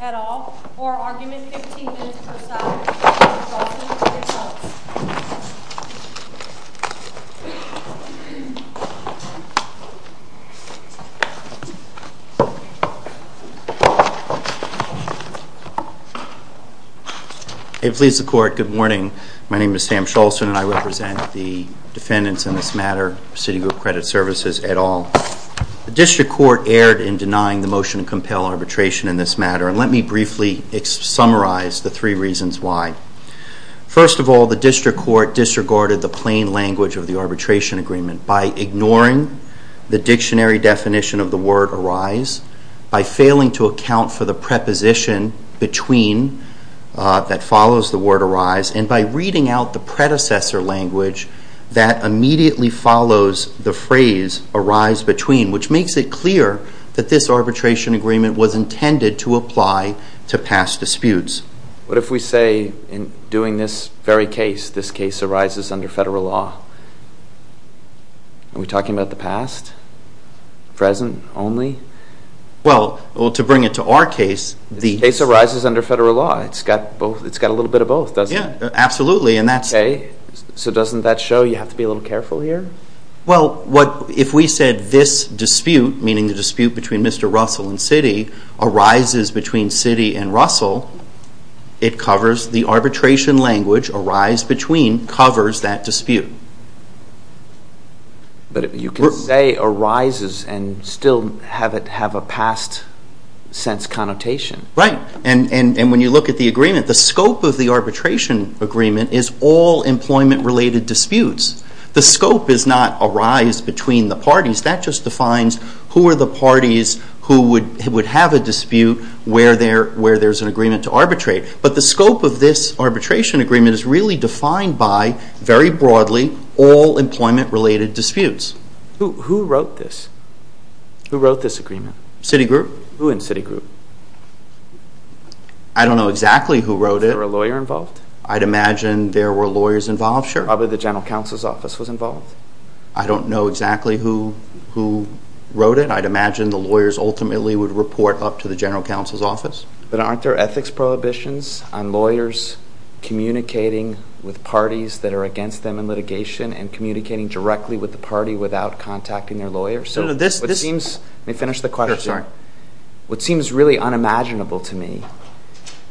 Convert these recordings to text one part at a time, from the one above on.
at all, for argument 15 minutes per side, Mr. Shultz, you may be resolved. It please the court, good morning. My name is Sam Shultz and I represent the defendants in this matter, Citigroup Credit Services at all. The district court erred in denying the motion to compel arbitration in this matter and let me briefly summarize the three reasons why. First of all, the district court disregarded the plain language of the arbitration agreement by ignoring the dictionary definition of the word arise, by failing to account for the preposition between that follows the word arise and by reading out the predecessor language that immediately follows the phrase arise between, which makes it clear that this arbitration agreement was intended to apply to past disputes. What if we say in doing this very case, this case arises under federal law? Are we talking about the past? Present? Only? Well, to bring it to our case, the case arises under federal law. It's got a little bit of both, doesn't it? Absolutely. So doesn't that show you have to be a little careful here? Well, if we said this dispute, meaning the dispute between Mr. Russell and Citi, arises between Citi and Russell, it covers the arbitration language arise between covers that dispute. But you can say arises and still have it have a past sense connotation. Right. And when you look at the agreement, the scope of the arbitration agreement is all employment-related disputes. The scope is not arise between the parties. That just defines who are the parties who would have a dispute where there's an agreement to arbitrate. But the scope of this arbitration agreement is really defined by, very broadly, all employment-related disputes. Who wrote this? Who wrote this agreement? Citi Group. Who in Citi Group? I don't know exactly who wrote it. Was there a lawyer involved? I'd imagine there were lawyers involved, sure. Probably the General Counsel's Office was involved. I don't know exactly who wrote it. I'd imagine the lawyers ultimately would report up to the General Counsel's Office. But aren't there ethics prohibitions on lawyers communicating with parties that are against them in litigation and communicating directly with the party without contacting their lawyers? Let me finish the question. What seems really unimaginable to me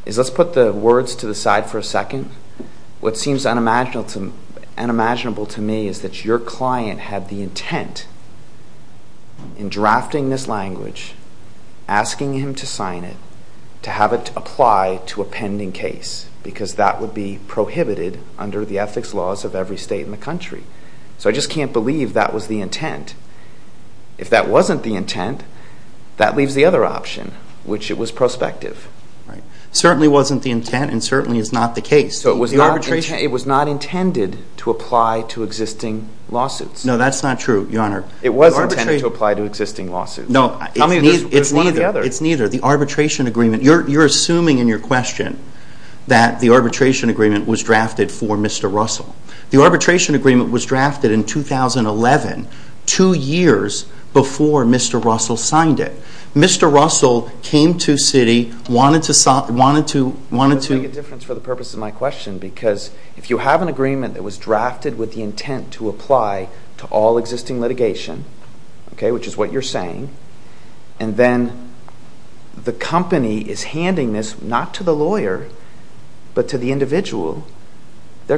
is, let's put the words to the side for a second. What seems unimaginable to me is that your client had the intent in drafting this language, asking him to sign it, to have it apply to a pending case, because that would be prohibited under the ethics laws of every state in the country. So I just can't believe that was the intent. If that wasn't the intent, that leaves the other option, which it was prospective. It certainly wasn't the intent and certainly is not the case. So it was not intended to apply to existing lawsuits. No, that's not true, Your Honor. It was intended to apply to existing lawsuits. No, it's neither. There's one or the other. It's neither. The arbitration agreement, you're assuming in your question that the arbitration agreement was drafted for Mr. Russell. The arbitration agreement was drafted in 2011, two years before Mr. Russell signed it. Mr. Russell came to Citi, wanted to... That doesn't make a difference for the purpose of my question, because if you have an agreement that was drafted with the intent to apply to all existing litigation, which is what you're saying, and then the company is handing this, not to the lawyer, but to the individual, they're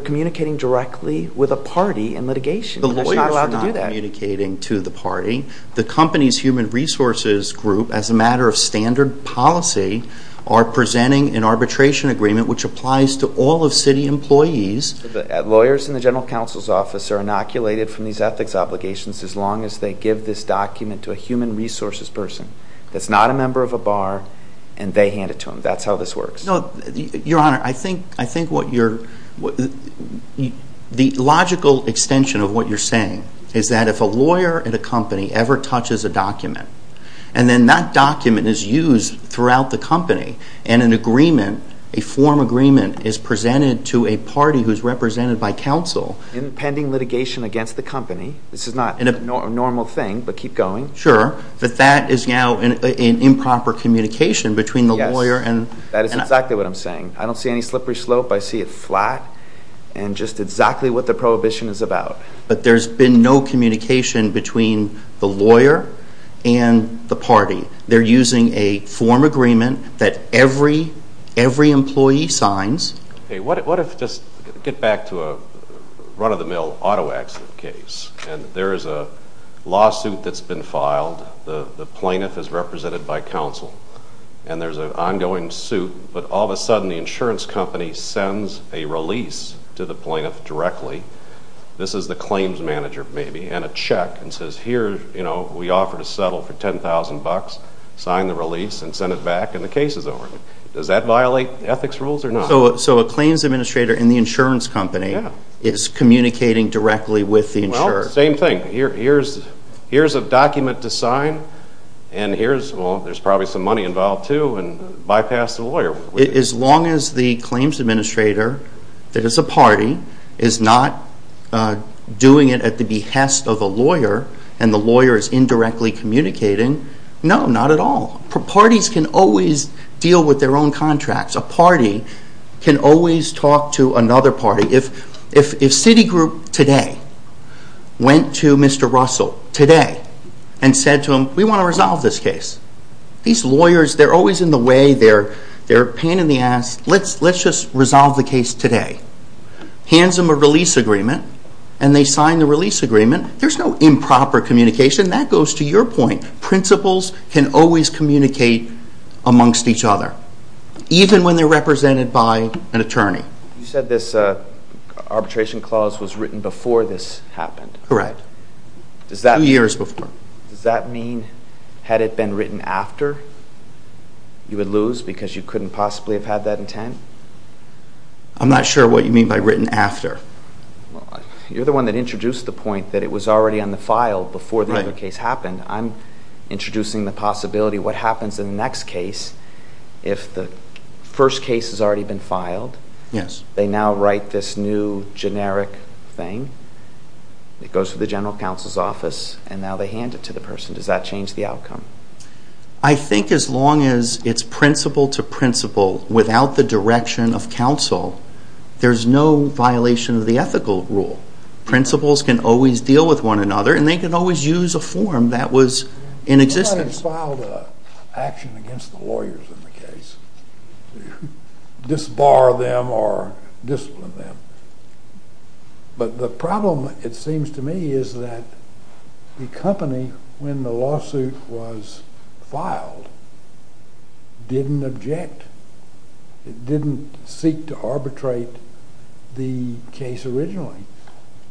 communicating directly with a party in litigation. That's not allowed to do that. The lawyers are not communicating to the party. The company's human resources group, as a matter of standard policy, are presenting an arbitration agreement which applies to all of Citi employees. Lawyers in the general counsel's office are inoculated from these ethics obligations as long as they give this document to a human resources person that's not a member of a bar and they hand it to them. That's how this works. Your Honor, I think what you're... The logical extension of what you're saying is that if a lawyer at a company ever touches a document and then that document is used throughout the company and an agreement, a form agreement, is presented to a party who's represented by counsel... In pending litigation against the company. This is not a normal thing, but keep going. Sure. But that is now an improper communication between the lawyer and... That is exactly what I'm saying. I don't see any slippery slope. I see it flat and just exactly what the prohibition is about. But there's been no communication between the lawyer and the party. They're using a form agreement that every employee signs. Okay. What if, just to get back to a run-of-the-mill auto accident case, and there is a lawsuit that's been filed, the plaintiff is represented by counsel, and there's an ongoing suit, but all of a sudden the insurance company sends a release to the plaintiff directly. This is the claims manager, maybe, and a check and says, Here, we offer to settle for $10,000, sign the release and send it back, and the case is over. Does that violate ethics rules or not? So a claims administrator in the insurance company is communicating directly with the insurer. Well, same thing. Here's a document to sign, and here's... There's money involved, too, and bypass the lawyer. As long as the claims administrator that is a party is not doing it at the behest of a lawyer and the lawyer is indirectly communicating, no, not at all. Parties can always deal with their own contracts. A party can always talk to another party. If Citigroup today went to Mr. Russell today and said to him, We want to resolve this case. These lawyers, they're always in the way. They're a pain in the ass. Let's just resolve the case today. Hands them a release agreement, and they sign the release agreement. There's no improper communication. That goes to your point. Principals can always communicate amongst each other, even when they're represented by an attorney. You said this arbitration clause was written before this happened. Correct. Years before. Does that mean had it been written after you would lose because you couldn't possibly have had that intent? I'm not sure what you mean by written after. You're the one that introduced the point that it was already on the file before the other case happened. I'm introducing the possibility what happens in the next case if the first case has already been filed. Yes. They now write this new generic thing. It goes to the general counsel's office, and now they hand it to the person. Does that change the outcome? I think as long as it's principal to principal without the direction of counsel, there's no violation of the ethical rule. Principals can always deal with one another, and they can always use a form that was in existence. You might have filed an action against the lawyers in the case. Disbar them or discipline them. But the problem, it seems to me, is that the company when the lawsuit was filed didn't object. It didn't seek to arbitrate the case originally.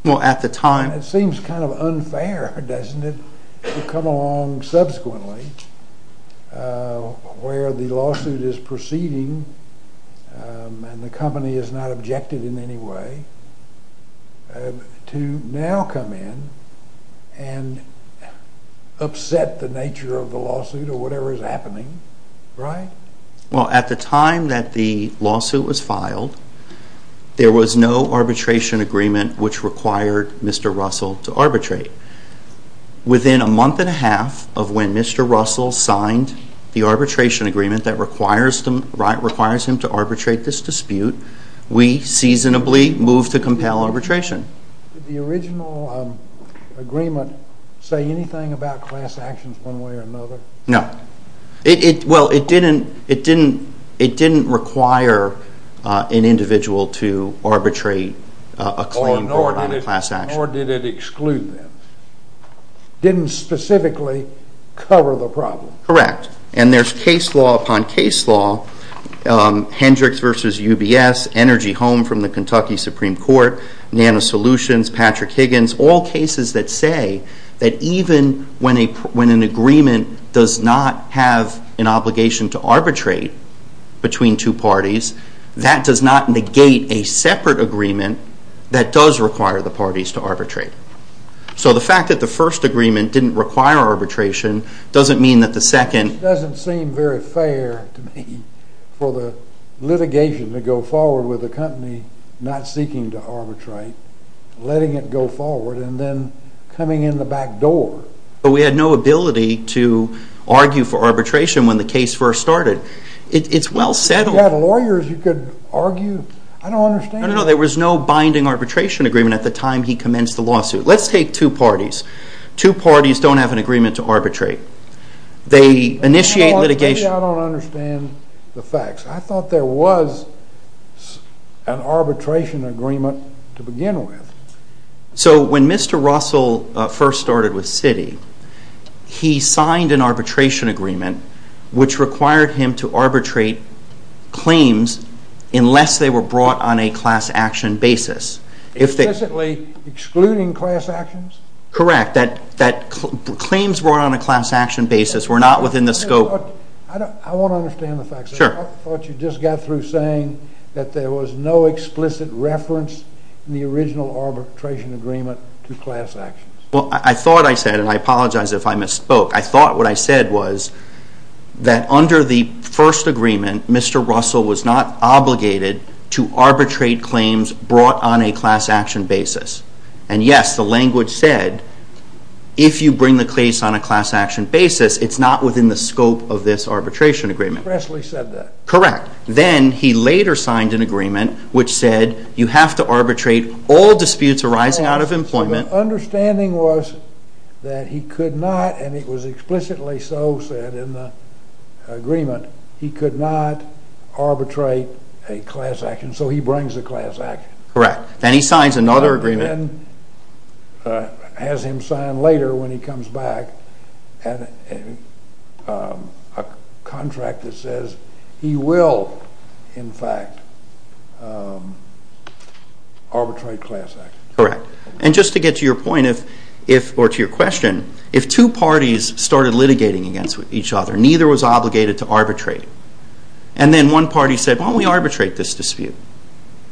Well, at the time. It seems kind of unfair, doesn't it, to come along subsequently where the lawsuit is proceeding and the company has not objected in any way to now come in and upset the nature of the lawsuit or whatever is happening, right? Well, at the time that the lawsuit was filed, there was no arbitration agreement which required Mr. Russell to arbitrate. Within a month and a half of when Mr. Russell signed the arbitration agreement that requires him to arbitrate this dispute, we seasonably moved to compel arbitration. Did the original agreement say anything about class actions one way or another? No. Well, it didn't require an individual to arbitrate a claim for a high class action. Nor did it exclude them. It didn't specifically cover the problem. Correct. And there's case law upon case law, Hendricks v. UBS, Energy Home from the Kentucky Supreme Court, Nano Solutions, Patrick Higgins, all cases that say that even when an agreement does not have an obligation to arbitrate between two parties, that does not negate a separate agreement that does require the parties to arbitrate. So the fact that the first agreement didn't require arbitration doesn't mean that the second... It doesn't seem very fair to me for the litigation to go forward with the company not seeking to arbitrate, letting it go forward, and then coming in the back door. But we had no ability to argue for arbitration when the case first started. It's well settled. If you had lawyers you could argue. I don't understand. No, no, no. There was no binding arbitration agreement at the time he commenced the lawsuit. Let's take two parties. Two parties don't have an agreement to arbitrate. They initiate litigation... Maybe I don't understand the facts. I thought there was an arbitration agreement to begin with. So when Mr. Russell first started with Citi, he signed an arbitration agreement which required him to arbitrate claims unless they were brought on a class action basis. Explicitly excluding class actions? Correct. Claims brought on a class action basis were not within the scope... I want to understand the facts. I thought you just got through saying that there was no explicit reference in the original arbitration agreement to class actions. Well, I thought I said, and I apologize if I misspoke, I thought what I said was that under the first agreement Mr. Russell was not obligated to arbitrate claims brought on a class action basis. And yes, the language said if you bring the case on a class action basis it's not within the scope of this arbitration agreement. Presley said that. Correct. Then he later signed an agreement which said you have to arbitrate all disputes arising out of employment... So the understanding was that he could not, and it was explicitly so said in the agreement, he could not arbitrate a class action so he brings a class action. Correct. Then he signs another agreement... And then has him sign later when he comes back a contract that says he will in fact arbitrate class action. Correct. And just to get to your point or to your question, if two parties started litigating against each other neither was obligated to arbitrate and then one party said why don't we arbitrate this dispute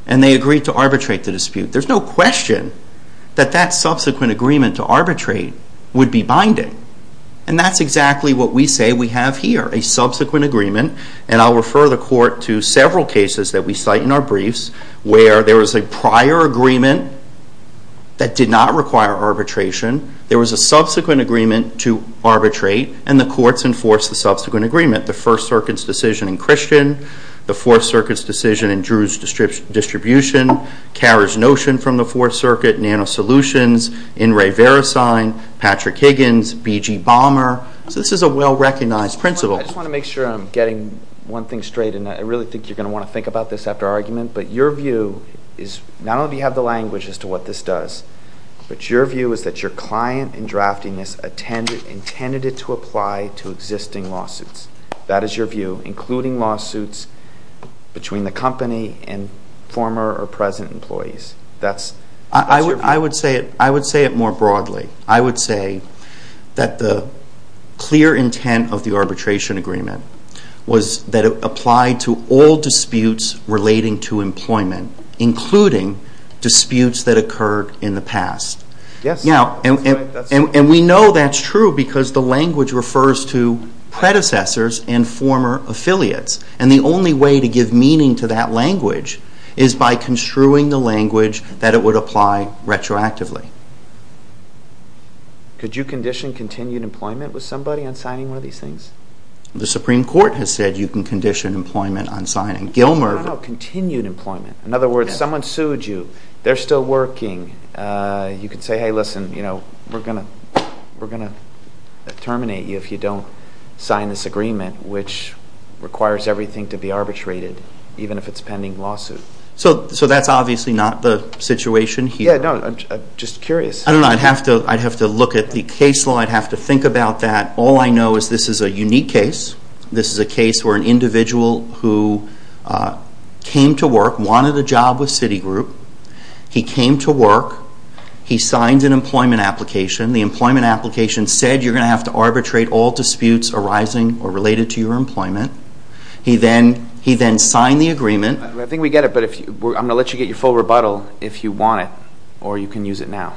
and they agreed to arbitrate the dispute there's no question that that subsequent agreement to arbitrate would be binding. And that's exactly what we say we have here a subsequent agreement and I'll refer the court to several cases that we cite in our briefs where there was a prior agreement that did not require arbitration there was a subsequent agreement to arbitrate and the courts enforced the subsequent agreement the First Circuit's decision in Christian the Fourth Circuit's decision in Drew's distribution Carrer's notion from the Fourth Circuit Nano Solutions In re Verisign Patrick Higgins BG Bomber So this is a well recognized principle. I just want to make sure I'm getting one thing straight and I really think you're going to want to think about this after our argument but your view is not only do you have the language as to what this does but your view is that your client in drafting this intended it to apply to existing lawsuits. That is your view including lawsuits between the company and former or present employees. That's your view. I would say it more broadly. I would say that the clear intent of the arbitration agreement was that it applied to all disputes relating to employment including disputes that occurred in the past. Yes. And we know that's true because the language refers to predecessors and former affiliates. And the only way to give meaning to that language is by construing the language that it would apply retroactively. Could you condition continued employment with somebody on signing one of these things? The Supreme Court has said you can condition employment on signing. No, no, no. Continued employment. In other words, someone sued you. They're still working. You could say, hey, listen, we're going to terminate you if you don't sign this agreement which requires everything to be arbitrated even if it's pending lawsuit. So that's obviously not the situation here. Yeah, no. I'm just curious. I don't know. I'd have to look at the case law. I'd have to think about that. All I know is this is a unique case. This is a case where an individual who came to work, wanted a job with Citigroup. He came to work. He signed an employment application. The employment application said you're going to have to arbitrate all disputes arising or related to your employment. He then signed the agreement. I think we get it. I'm going to let you get your full rebuttal if you want it or you can use it now.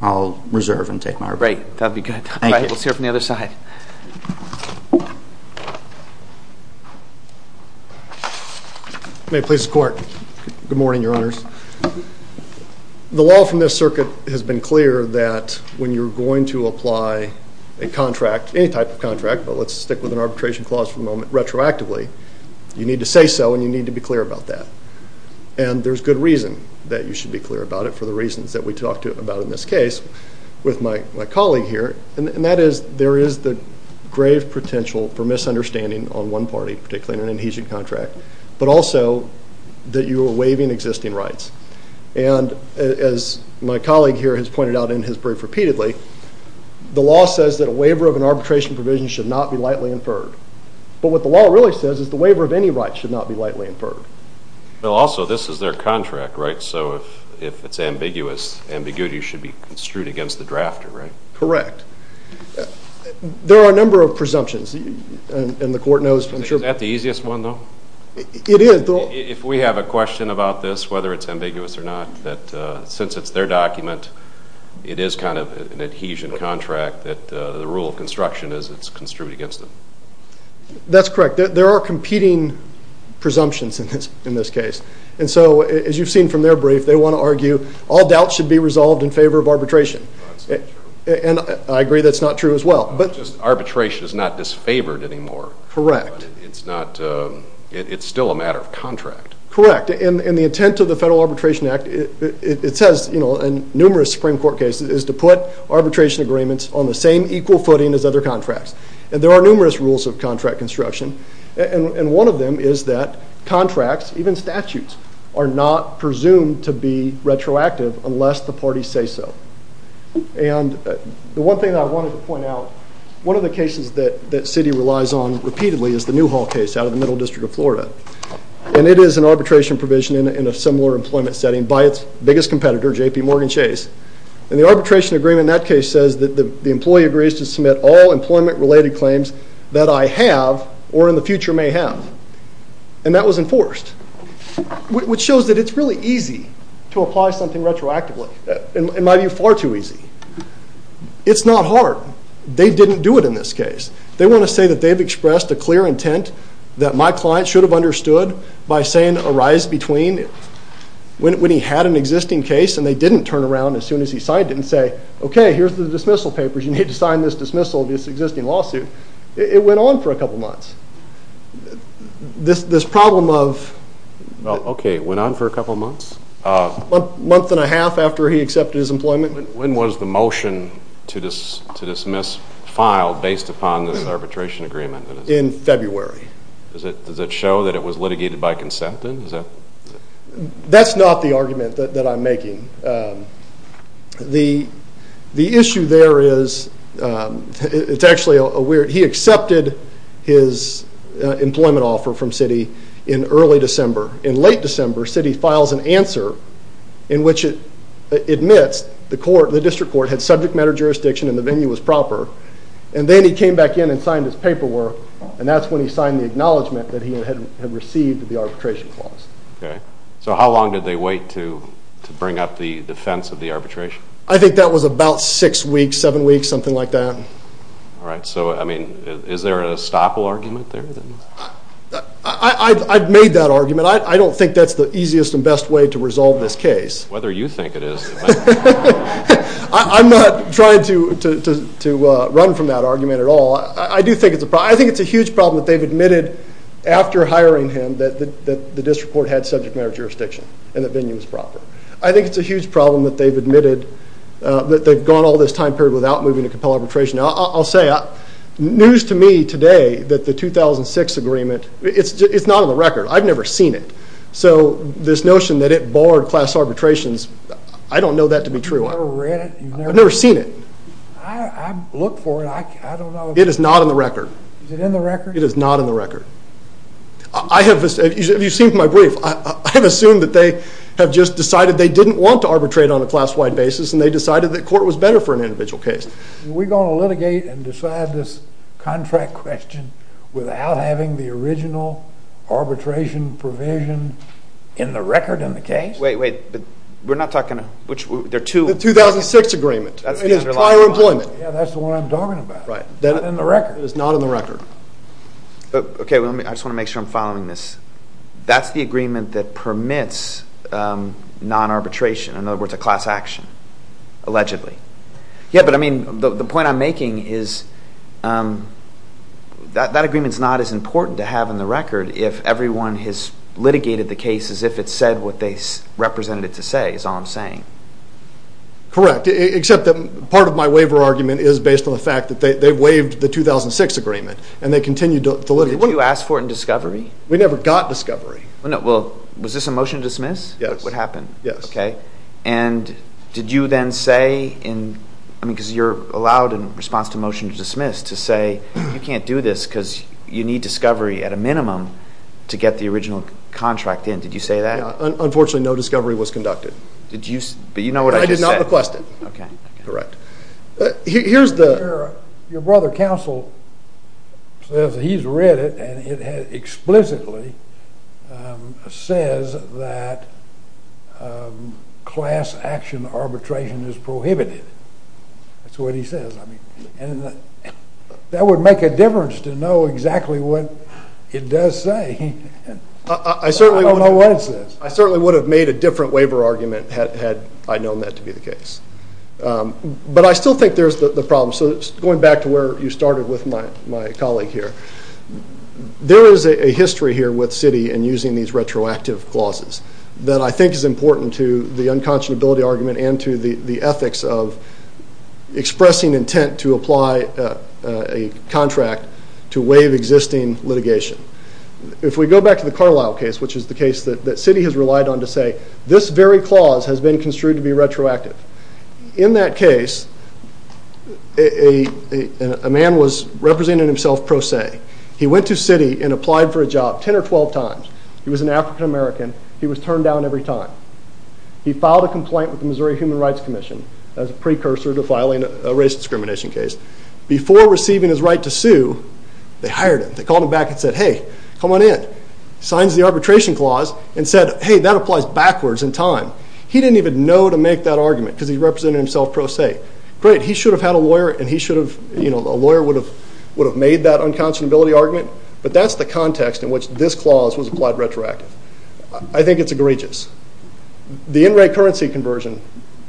I'll reserve and take my rebuttal. Great. That would be good. Thank you. Let's hear it from the other side. May it please the Court. Good morning, Your Honors. The law from this circuit has been clear that when you're going to apply a contract, any type of contract, but let's stick with an arbitration clause for the moment, retroactively, you need to say so and you need to be clear about that. There's good reason that you should be clear about it for the reasons that we talked about in this case with my colleague here. That is, there is the grave potential for misunderstanding on one party, particularly in an adhesion contract, but also that you are waiving existing rights. As my colleague here has pointed out and has briefed repeatedly, the law says that a waiver of an arbitration provision should not be lightly inferred, but what the law really says is the waiver of any rights should not be lightly inferred. Also, this is their contract, right? So if it's ambiguous, ambiguity should be construed against the drafter, right? Correct. There are a number of presumptions and the Court knows, I'm sure... Is that the easiest one, though? It is. If we have a question about this, whether it's ambiguous or not, that since it's their document, it is kind of an adhesion contract that the rule of construction is it's construed against them. That's correct. There are competing presumptions in this case. And so, as you've seen from their brief, they want to argue all doubts should be resolved in favor of arbitration. And I agree that's not true as well. Just arbitration is not disfavored anymore. Correct. It's not... It's still a matter of contract. Correct. And the intent of the Federal Arbitration Act, it says, you know, in numerous Supreme Court cases, is to put arbitration agreements on the same equal footing as other contracts. And there are numerous rules of contract construction. And one of them is that contracts, even statutes, are not presumed to be retroactive unless the parties say so. And the one thing I wanted to point out, one of the cases that Citi relies on repeatedly is the Newhall case out of the Middle District of Florida. And it is an arbitration provision in a similar employment setting by its biggest competitor, JPMorgan Chase. And the arbitration agreement in that case says that the employee agrees to submit all employment-related claims that I have or in the future may have. And that was enforced. Which shows that it's really easy to apply something retroactively. In my view, far too easy. It's not hard. They didn't do it in this case. They want to say that they've expressed a clear intent that my client should have understood by saying arise between when he had an existing case and they didn't turn around as soon as he signed it and say, okay, here's the dismissal papers. You need to sign this dismissal of this existing lawsuit. It went on for a couple months. This problem of... Well, okay. It went on for a couple months? A month and a half after he accepted his employment. When was the motion to dismiss filed based upon this arbitration agreement? In February. Does it show that it was litigated by consent then? That's not the argument that I'm making. The issue there is... It's actually a weird... He accepted his employment offer from Citi in early December. In late December, Citi files an answer in which it admits the district court had subject matter jurisdiction and the venue was proper. And then he came back in and signed his paperwork and that's when he signed the acknowledgement that he had received the arbitration clause. So how long did they wait to bring up the defense of the arbitration? I think that was about six weeks, seven weeks, something like that. All right. So, I mean, is there a stopple argument there? I've made that argument. I don't think that's the easiest and best way to resolve this case. Whether you think it is... I'm not trying to run from that argument at all. I do think it's a problem. I think it's a huge problem that they've admitted after hiring him that the district court had subject matter jurisdiction and the venue was proper. I think it's a huge problem that they've admitted that they've gone all this time period without moving to compel arbitration. I'll say news to me today that the 2006 agreement, it's not on the record. I've never seen it. So this notion that it barred class arbitrations, I don't know that to be true. You've never read it? I've never seen it. I look for it. I don't know. It is not on the record. Is it in the record? It is not in the record. I have... You've seen my brief. I have assumed that they have just decided they didn't want to arbitrate on a class-wide basis and they decided that court was better for an individual case. We're going to litigate and decide this contract question without having the original arbitration provision in the record in the case? Wait, wait. We're not talking... The 2006 agreement. It is prior employment. That's the one I'm talking about. Right. It's not in the record. It is not in the record. Okay. I just want to make sure I'm following this. That's the agreement that permits non-arbitration. In other words, a class action, allegedly. Yeah, but I mean, the point I'm making is that agreement is not as important to have in the record if everyone has litigated the case as if it said what they represented it to say, is all I'm saying. Correct, except that part of my waiver argument is based on the fact that they waived the 2006 agreement and they continued to litigate. You asked for it in discovery. We never got discovery. No, well, was this a motion to dismiss? Yes. What happened? Yes. Okay. And did you then say in... I mean, because you're allowed in response to motion to dismiss to say, you can't do this because you need discovery at a minimum to get the original contract in. Did you say that? Unfortunately, no discovery was conducted. Did you... But you know what I just said. I did not request it. Okay. Correct. Here's the... Your brother counsel says that he's read it and it explicitly says that class action arbitration is prohibited. That's what he says. That would make a difference to know exactly what it does say. I don't know what it says. I certainly would have made a different waiver argument had I known that to be the case. But I still think there's the problem. So going back to where you started with my colleague here. There is a history here with Citi in using these retroactive clauses that I think is important to the unconscionability argument and to the ethics of expressing intent to apply a contract to waive existing litigation. If we go back to the Carlisle case, which is the case that Citi has relied on to say, this very clause has been construed to be retroactive. In that case, a man was an African-American every time. He went to Citi and applied for a job 10 or 12 times. He was an African-American. He was turned down every time. He filed a complaint with the Missouri Human Rights Commission as a precursor to filing a race discrimination case. Before receiving his right to sue, they hired him. They called him back and said, hey, come on in. Signs the arbitration clause and said, hey, that applies backwards in time. He didn't even know to make that argument because he represented himself pro se. Great. He should have had a lawyer and he should have, you know, a lawyer would have made that unconscionability argument. But that's the context in which this clause was applied retroactive. I think it's egregious. The in-rate currency conversion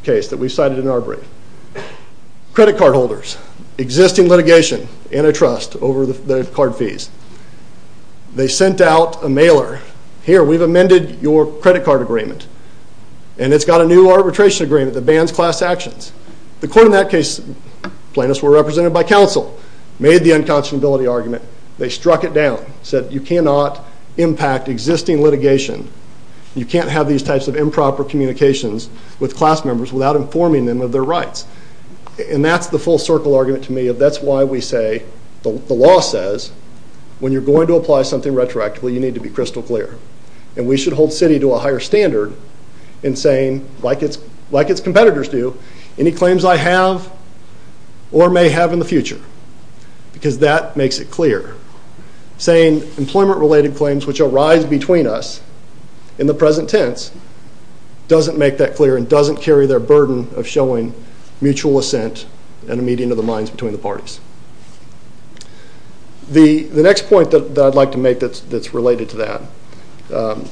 case that we cited in our brief. Credit card holders, existing litigation, antitrust over the card fees. They sent out a mailer. Here, we've amended your credit card agreement and it's got a new arbitration agreement that bans class actions. The court in that case plaintiffs were represented by counsel. Made the unconscionability argument. They struck it down. Said you cannot impact existing litigation. You can't have these types of improper communications with class members without informing them of their rights. And that's the full circle argument to me of that's why we say the law says when you're going to apply something retroactively you need to be crystal clear. And we should hold city to a higher standard in saying like its competitors do any claims I have or may have in the future because that makes it clear. Saying employment related claims which arise between us in the present tense doesn't make that clear and doesn't carry their burden of showing mutual assent and a meeting of the minds between the parties. The next point that I'd like to make that's related to that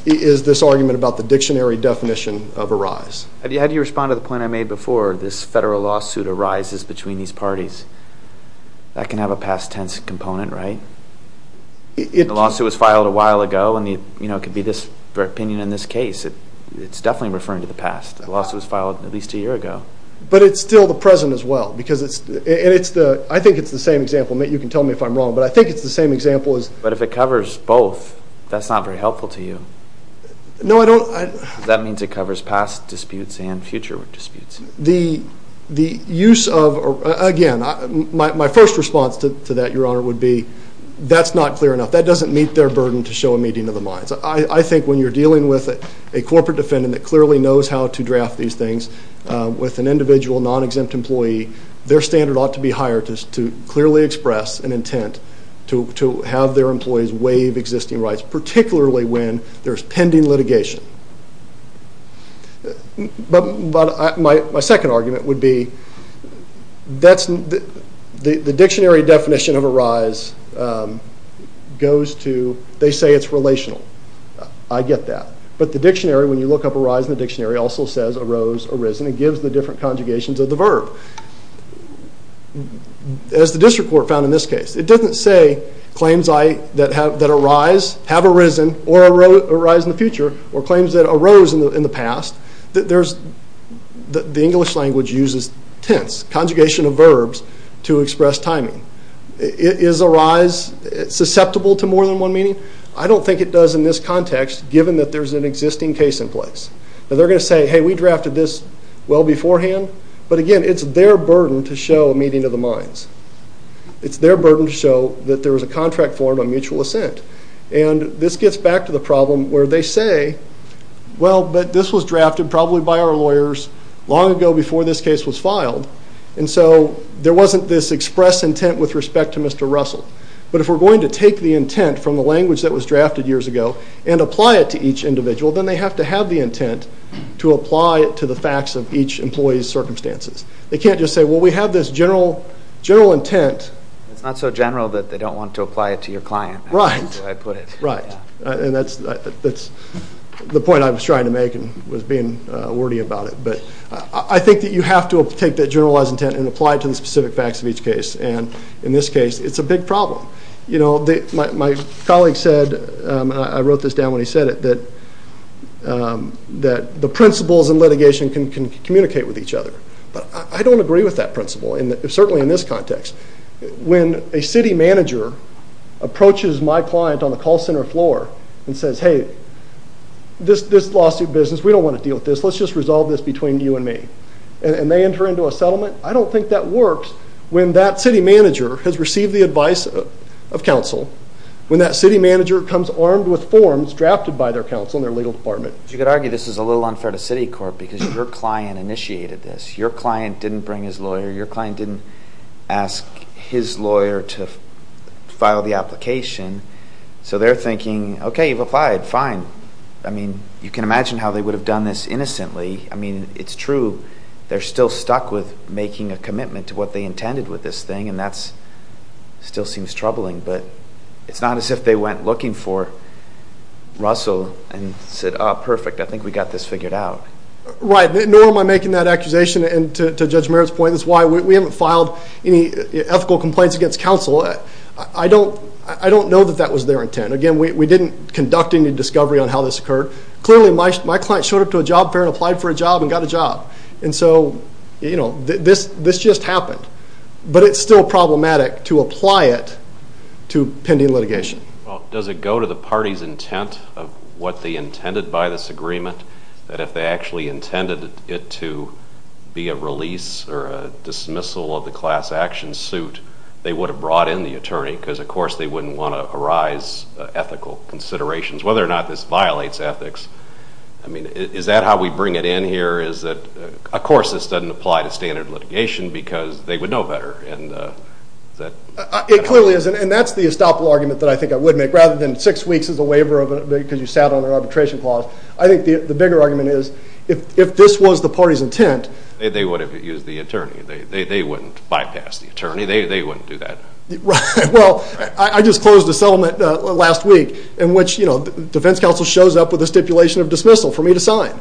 is this argument about the dictionary definition of arise. How do you respond to the point I made before this federal lawsuit arises between these parties? That can have a past tense component, right? The lawsuit was filed a while ago and it could be this opinion in this case. It's definitely referring to the past. The lawsuit was filed at least a year ago. But it's still the present as well because it's and it's the I think it's the same example and you can tell me if I'm wrong but I think it's the same example as But if it covers both that's not very helpful to you. No, I don't That means it covers past disputes and future disputes. The use of again my first response to that your honor would be that's not clear enough. That doesn't meet their burden to show a meeting of the minds. I think when you're dealing with a corporate defendant that clearly knows how to draft these things with an individual non-exempt employee their standard ought to be higher to clearly express an intent to have their employees waive existing rights particularly when there's pending litigation. But my second argument would be that's the dictionary definition of arise goes to they say it's relational. I get that. But the dictionary when you look up arise in the dictionary also says arose, arisen and gives the different conjugations of the verb. As the district court found in this case it doesn't say claims I that arise have arisen or arise in the future or claims that arose in the past that there's the English language uses tense conjugation of verbs to express timing. Is arise susceptible to more than one meeting? I don't think it does in this context given that there's an existing case in place. They're going to say hey we drafted this well beforehand but again it's their burden to show a meeting of the minds. It's their burden to show that there was a contract formed on mutual assent. And this gets back to the problem where they say well but this was drafted probably by our lawyers long ago before this case was filed and so there wasn't this express intent with respect to Mr. Russell. But if we're going to take the intent from the language that was drafted years ago and apply it to each individual then they have to have the intent to apply it to the facts of each employee's circumstances. They can't just say well we have this general general intent. It's not so general that they don't want to apply it to your client. Right. Right. And that's that's the point I was trying to make and was being wordy about it but I think that you have to take that generalized intent and apply it to the specific facts of each case and in this case it's a big problem. You know my colleague said I wrote this down when he said it that that the principles in litigation can communicate with each other. But I don't agree with that principle and certainly in this context. When a city manager approaches my client on the call center floor and says hey this this lawsuit business we don't want to deal with this let's just resolve this between you and me and they enter into a settlement I don't think that works when that city manager has received the advice of council when that city manager comes armed with forms drafted by their council and their legal department. You could argue this is a little unfair to city court because your client initiated this. Your client didn't bring his lawyer. Your client didn't ask his lawyer to file the application so they're thinking ok you've applied fine I mean you can imagine how they would have done this innocently I mean it's true they're still stuck with making a commitment to what they intended with this thing and that's still seems troubling but it's not as if they went looking for Russell and said ah perfect I think we got this figured out. Right nor am I making that accusation and to Judge Merritt's point that's why we haven't filed any ethical complaints against council I don't I don't know that that was their intent again we didn't conduct any discovery on how this occurred. Clearly my client showed up to a job fair and applied for a job and got a job and so you know this just happened but it's still problematic to apply it to pending litigation. Well does it go to the party's intent of what they intended by this agreement that if they actually intended it to be a release or a dismissal of the class action suit they would have brought in the attorney because of course they wouldn't want to arise ethical considerations whether or not this violates ethics I mean is that how we bring it in here is that of course this doesn't apply to standard litigation because they would know better and that It clearly isn't and that's the estoppel argument that I think I would make rather than six weeks is a waiver because you sat on an arbitration clause I think the bigger argument is if this was the party's intent they would have used the attorney they wouldn't bypass the attorney they wouldn't do that Right well I just closed a settlement last week in which you know the defense council shows up with a stipulation of dismissal for me to sign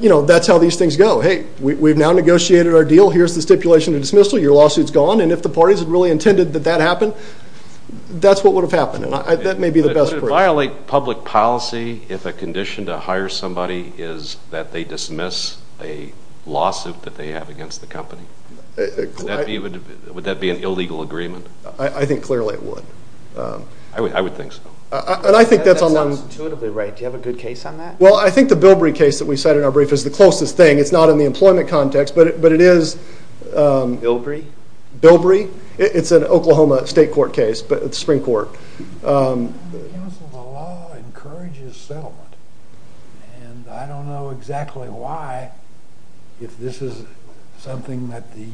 you know that's how these things go hey we've now negotiated our deal here's the stipulation of dismissal your lawsuit's gone and if the parties really intended that that happened that's what would have happened that may be the best would it violate public policy if a condition to hire somebody is that they dismiss a lawsuit that they have against the company would that be an illegal agreement I think clearly it would I would think so and I think that's on intuitively right do you have a good case on that well I think the Bilbrey case that we said in our brief is the closest thing it's not in the employment context but it is Bilbrey it's an Oklahoma state court case the spring court the law encourages settlement and I don't know exactly why if this is something that the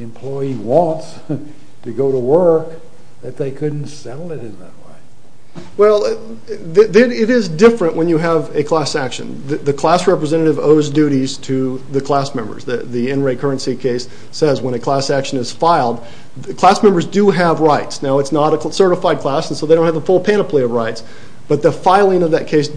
employee wants to go to work that they couldn't settle it in that way well it is different when you have a class action the class representative owes duties to the class members the NRA currency case says when a class action is filed the class members do have rights now it's not a certified class and so they don't have a full panoply of rights but the filing of that class action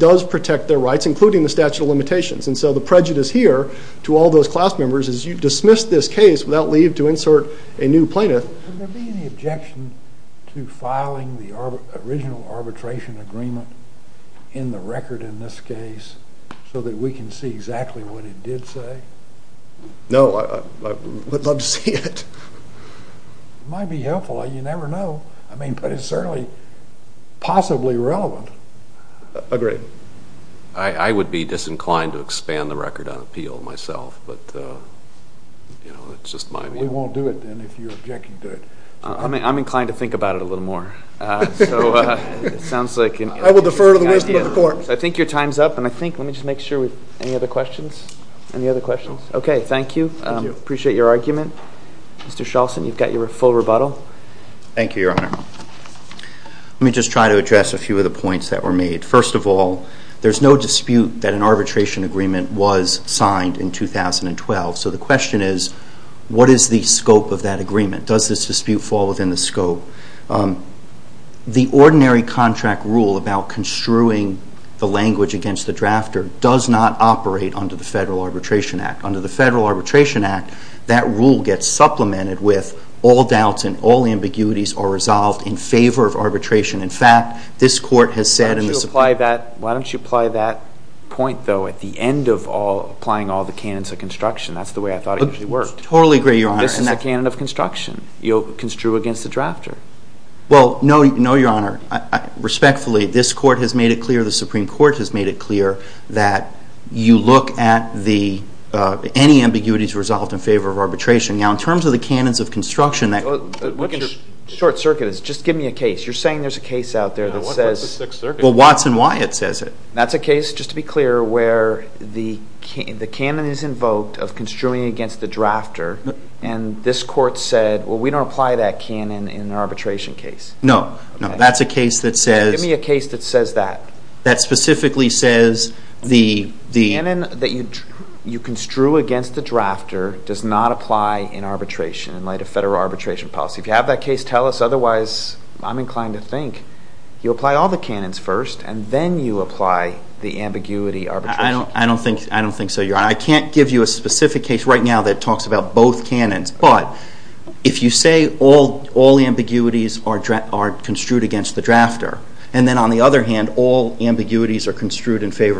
to filing the original arbitration agreement in the record in this case so that we can see exactly what it did say no I would love to see it it might be helpful you never know but it's certainly possibly relevant agreed I would be disinclined to expand the record on appeal myself but it's just my view I'm inclined to think about it a little more I think your time is up let me make sure any other questions thank you appreciate your time the question is the scope of the argument does the dispute fall within the scope the ordinary contract rule about construing the language against the drafter does not operate under the federal arbitration act. Under the federal arbitration act, that rule gets supplemented with all doubts and all ambiguities are resolved in favor of arbitration. In fact, this court has said in the Supreme Court that you look at any ambiguities resolved in favor of arbitration. Now, in terms of the canons of construction that you're saying there's a case out there that says Watson Wyatt says it. That's a case where the canon is invoked of the arbitration act. The canon that you construe against the drafter does not apply in arbitration in light of federal arbitration policy. If you have that case, tell us otherwise I'm inclined to think. You have that not in arbitration in light of federal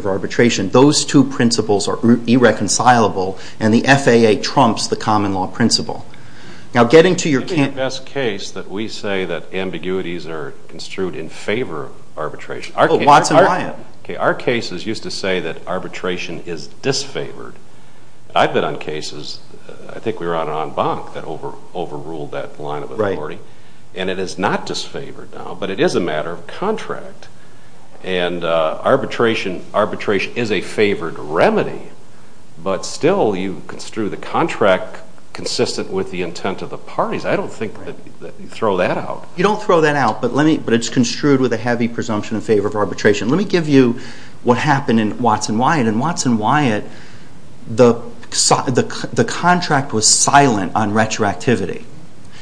arbitration policy. Those two principles are irreconcilable and the FAA trumps the common law principle. Now, getting to your point, it would be the best case that we say that ambiguities are construed in favor of arbitration. Our cases used to say that arbitration is disfavored. I've been on cases, I think we were on the of John Bonk that overruled that line of authority. And it is not disfavored now, but it is a matter of contract. And arbitration is a favored remedy, but still you construe the contract consistent with the intent of the parties. I don't think that you throw that out. You don't throw that out, but let me give you what happened in Watson Wyatt. In Watson Wyatt, the contract was silent on retroactivity.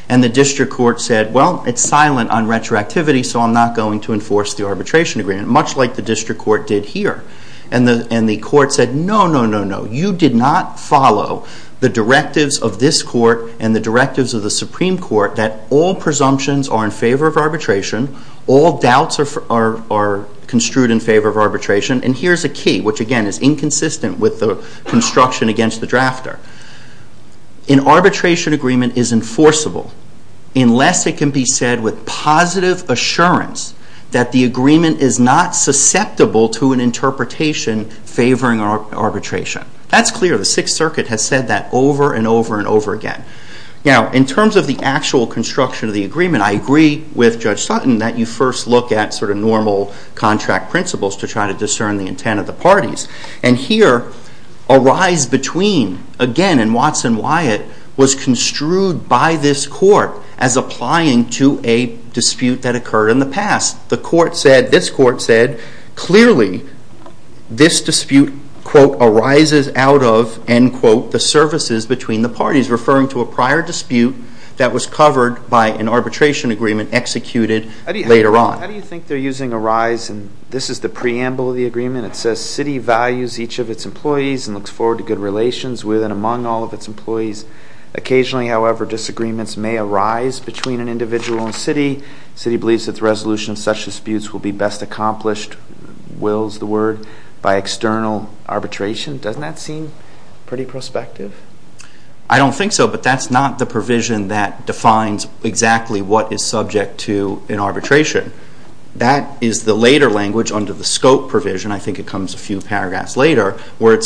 And the district court said, well, it's silent on retroactivity, so I'm not going to enforce the arbitration agreement, much like the district court did here. And the court said, no, no, no, no, you did not follow the directives of this court and the directives of the Supreme Court that all presumptions are in favor of arbitration, all doubts are construed in favor of arbitration. And here's a key, which, again, is inconsistent with the construction against the drafter. An arbitration agreement is enforceable unless it can be said with positive assurance that the agreement is not susceptible to an interpretation favoring arbitration. That's clear. The Sixth Circuit has said that over and over and over again. Now, in terms of the actual construction of the agreement, I agree with Judge Sutton that you first look at sort of normal contract principles to try to discern the intent of the agreement. Sixth Circuit quote, arises out of end quote the services between the parties, referring to a prior dispute that was covered by an arbitration agreement executed later on. How do you think they're using arise and this is the scope of duty to arbitrate? Doesn't that seem pretty prospective? I don't think so, but that's not the provision that defines exactly what is subject to an arbitration. That is the later language under the scope provision, I think it comes a few paragraphs later, where it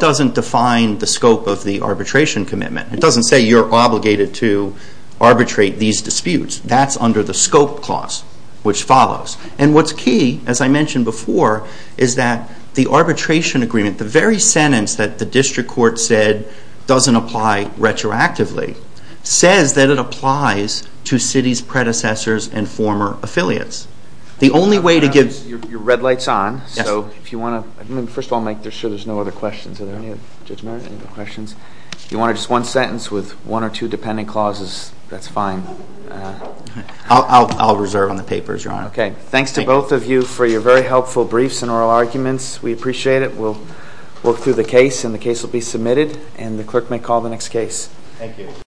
doesn't define the scope of the arbitration commitment. It doesn't say you're obligated to arbitrate these disputes. That's under the scope clause, which follows. And what's key, as I mentioned before, is that the arbitration agreement, the very sentence that the arbitration stipulates, is not actually the scope of the agreement. It's not the scope of the arbitration agreement. But that is the very sentence that the arbitration agreement stipulates. I'll reserve on the paper, Your Honor. Okay. Thanks to both of you for your very helpful briefs and oral arguments. We appreciate it. We'll work through the case and the case will be submitted and the clerk may call the next case. Thank you.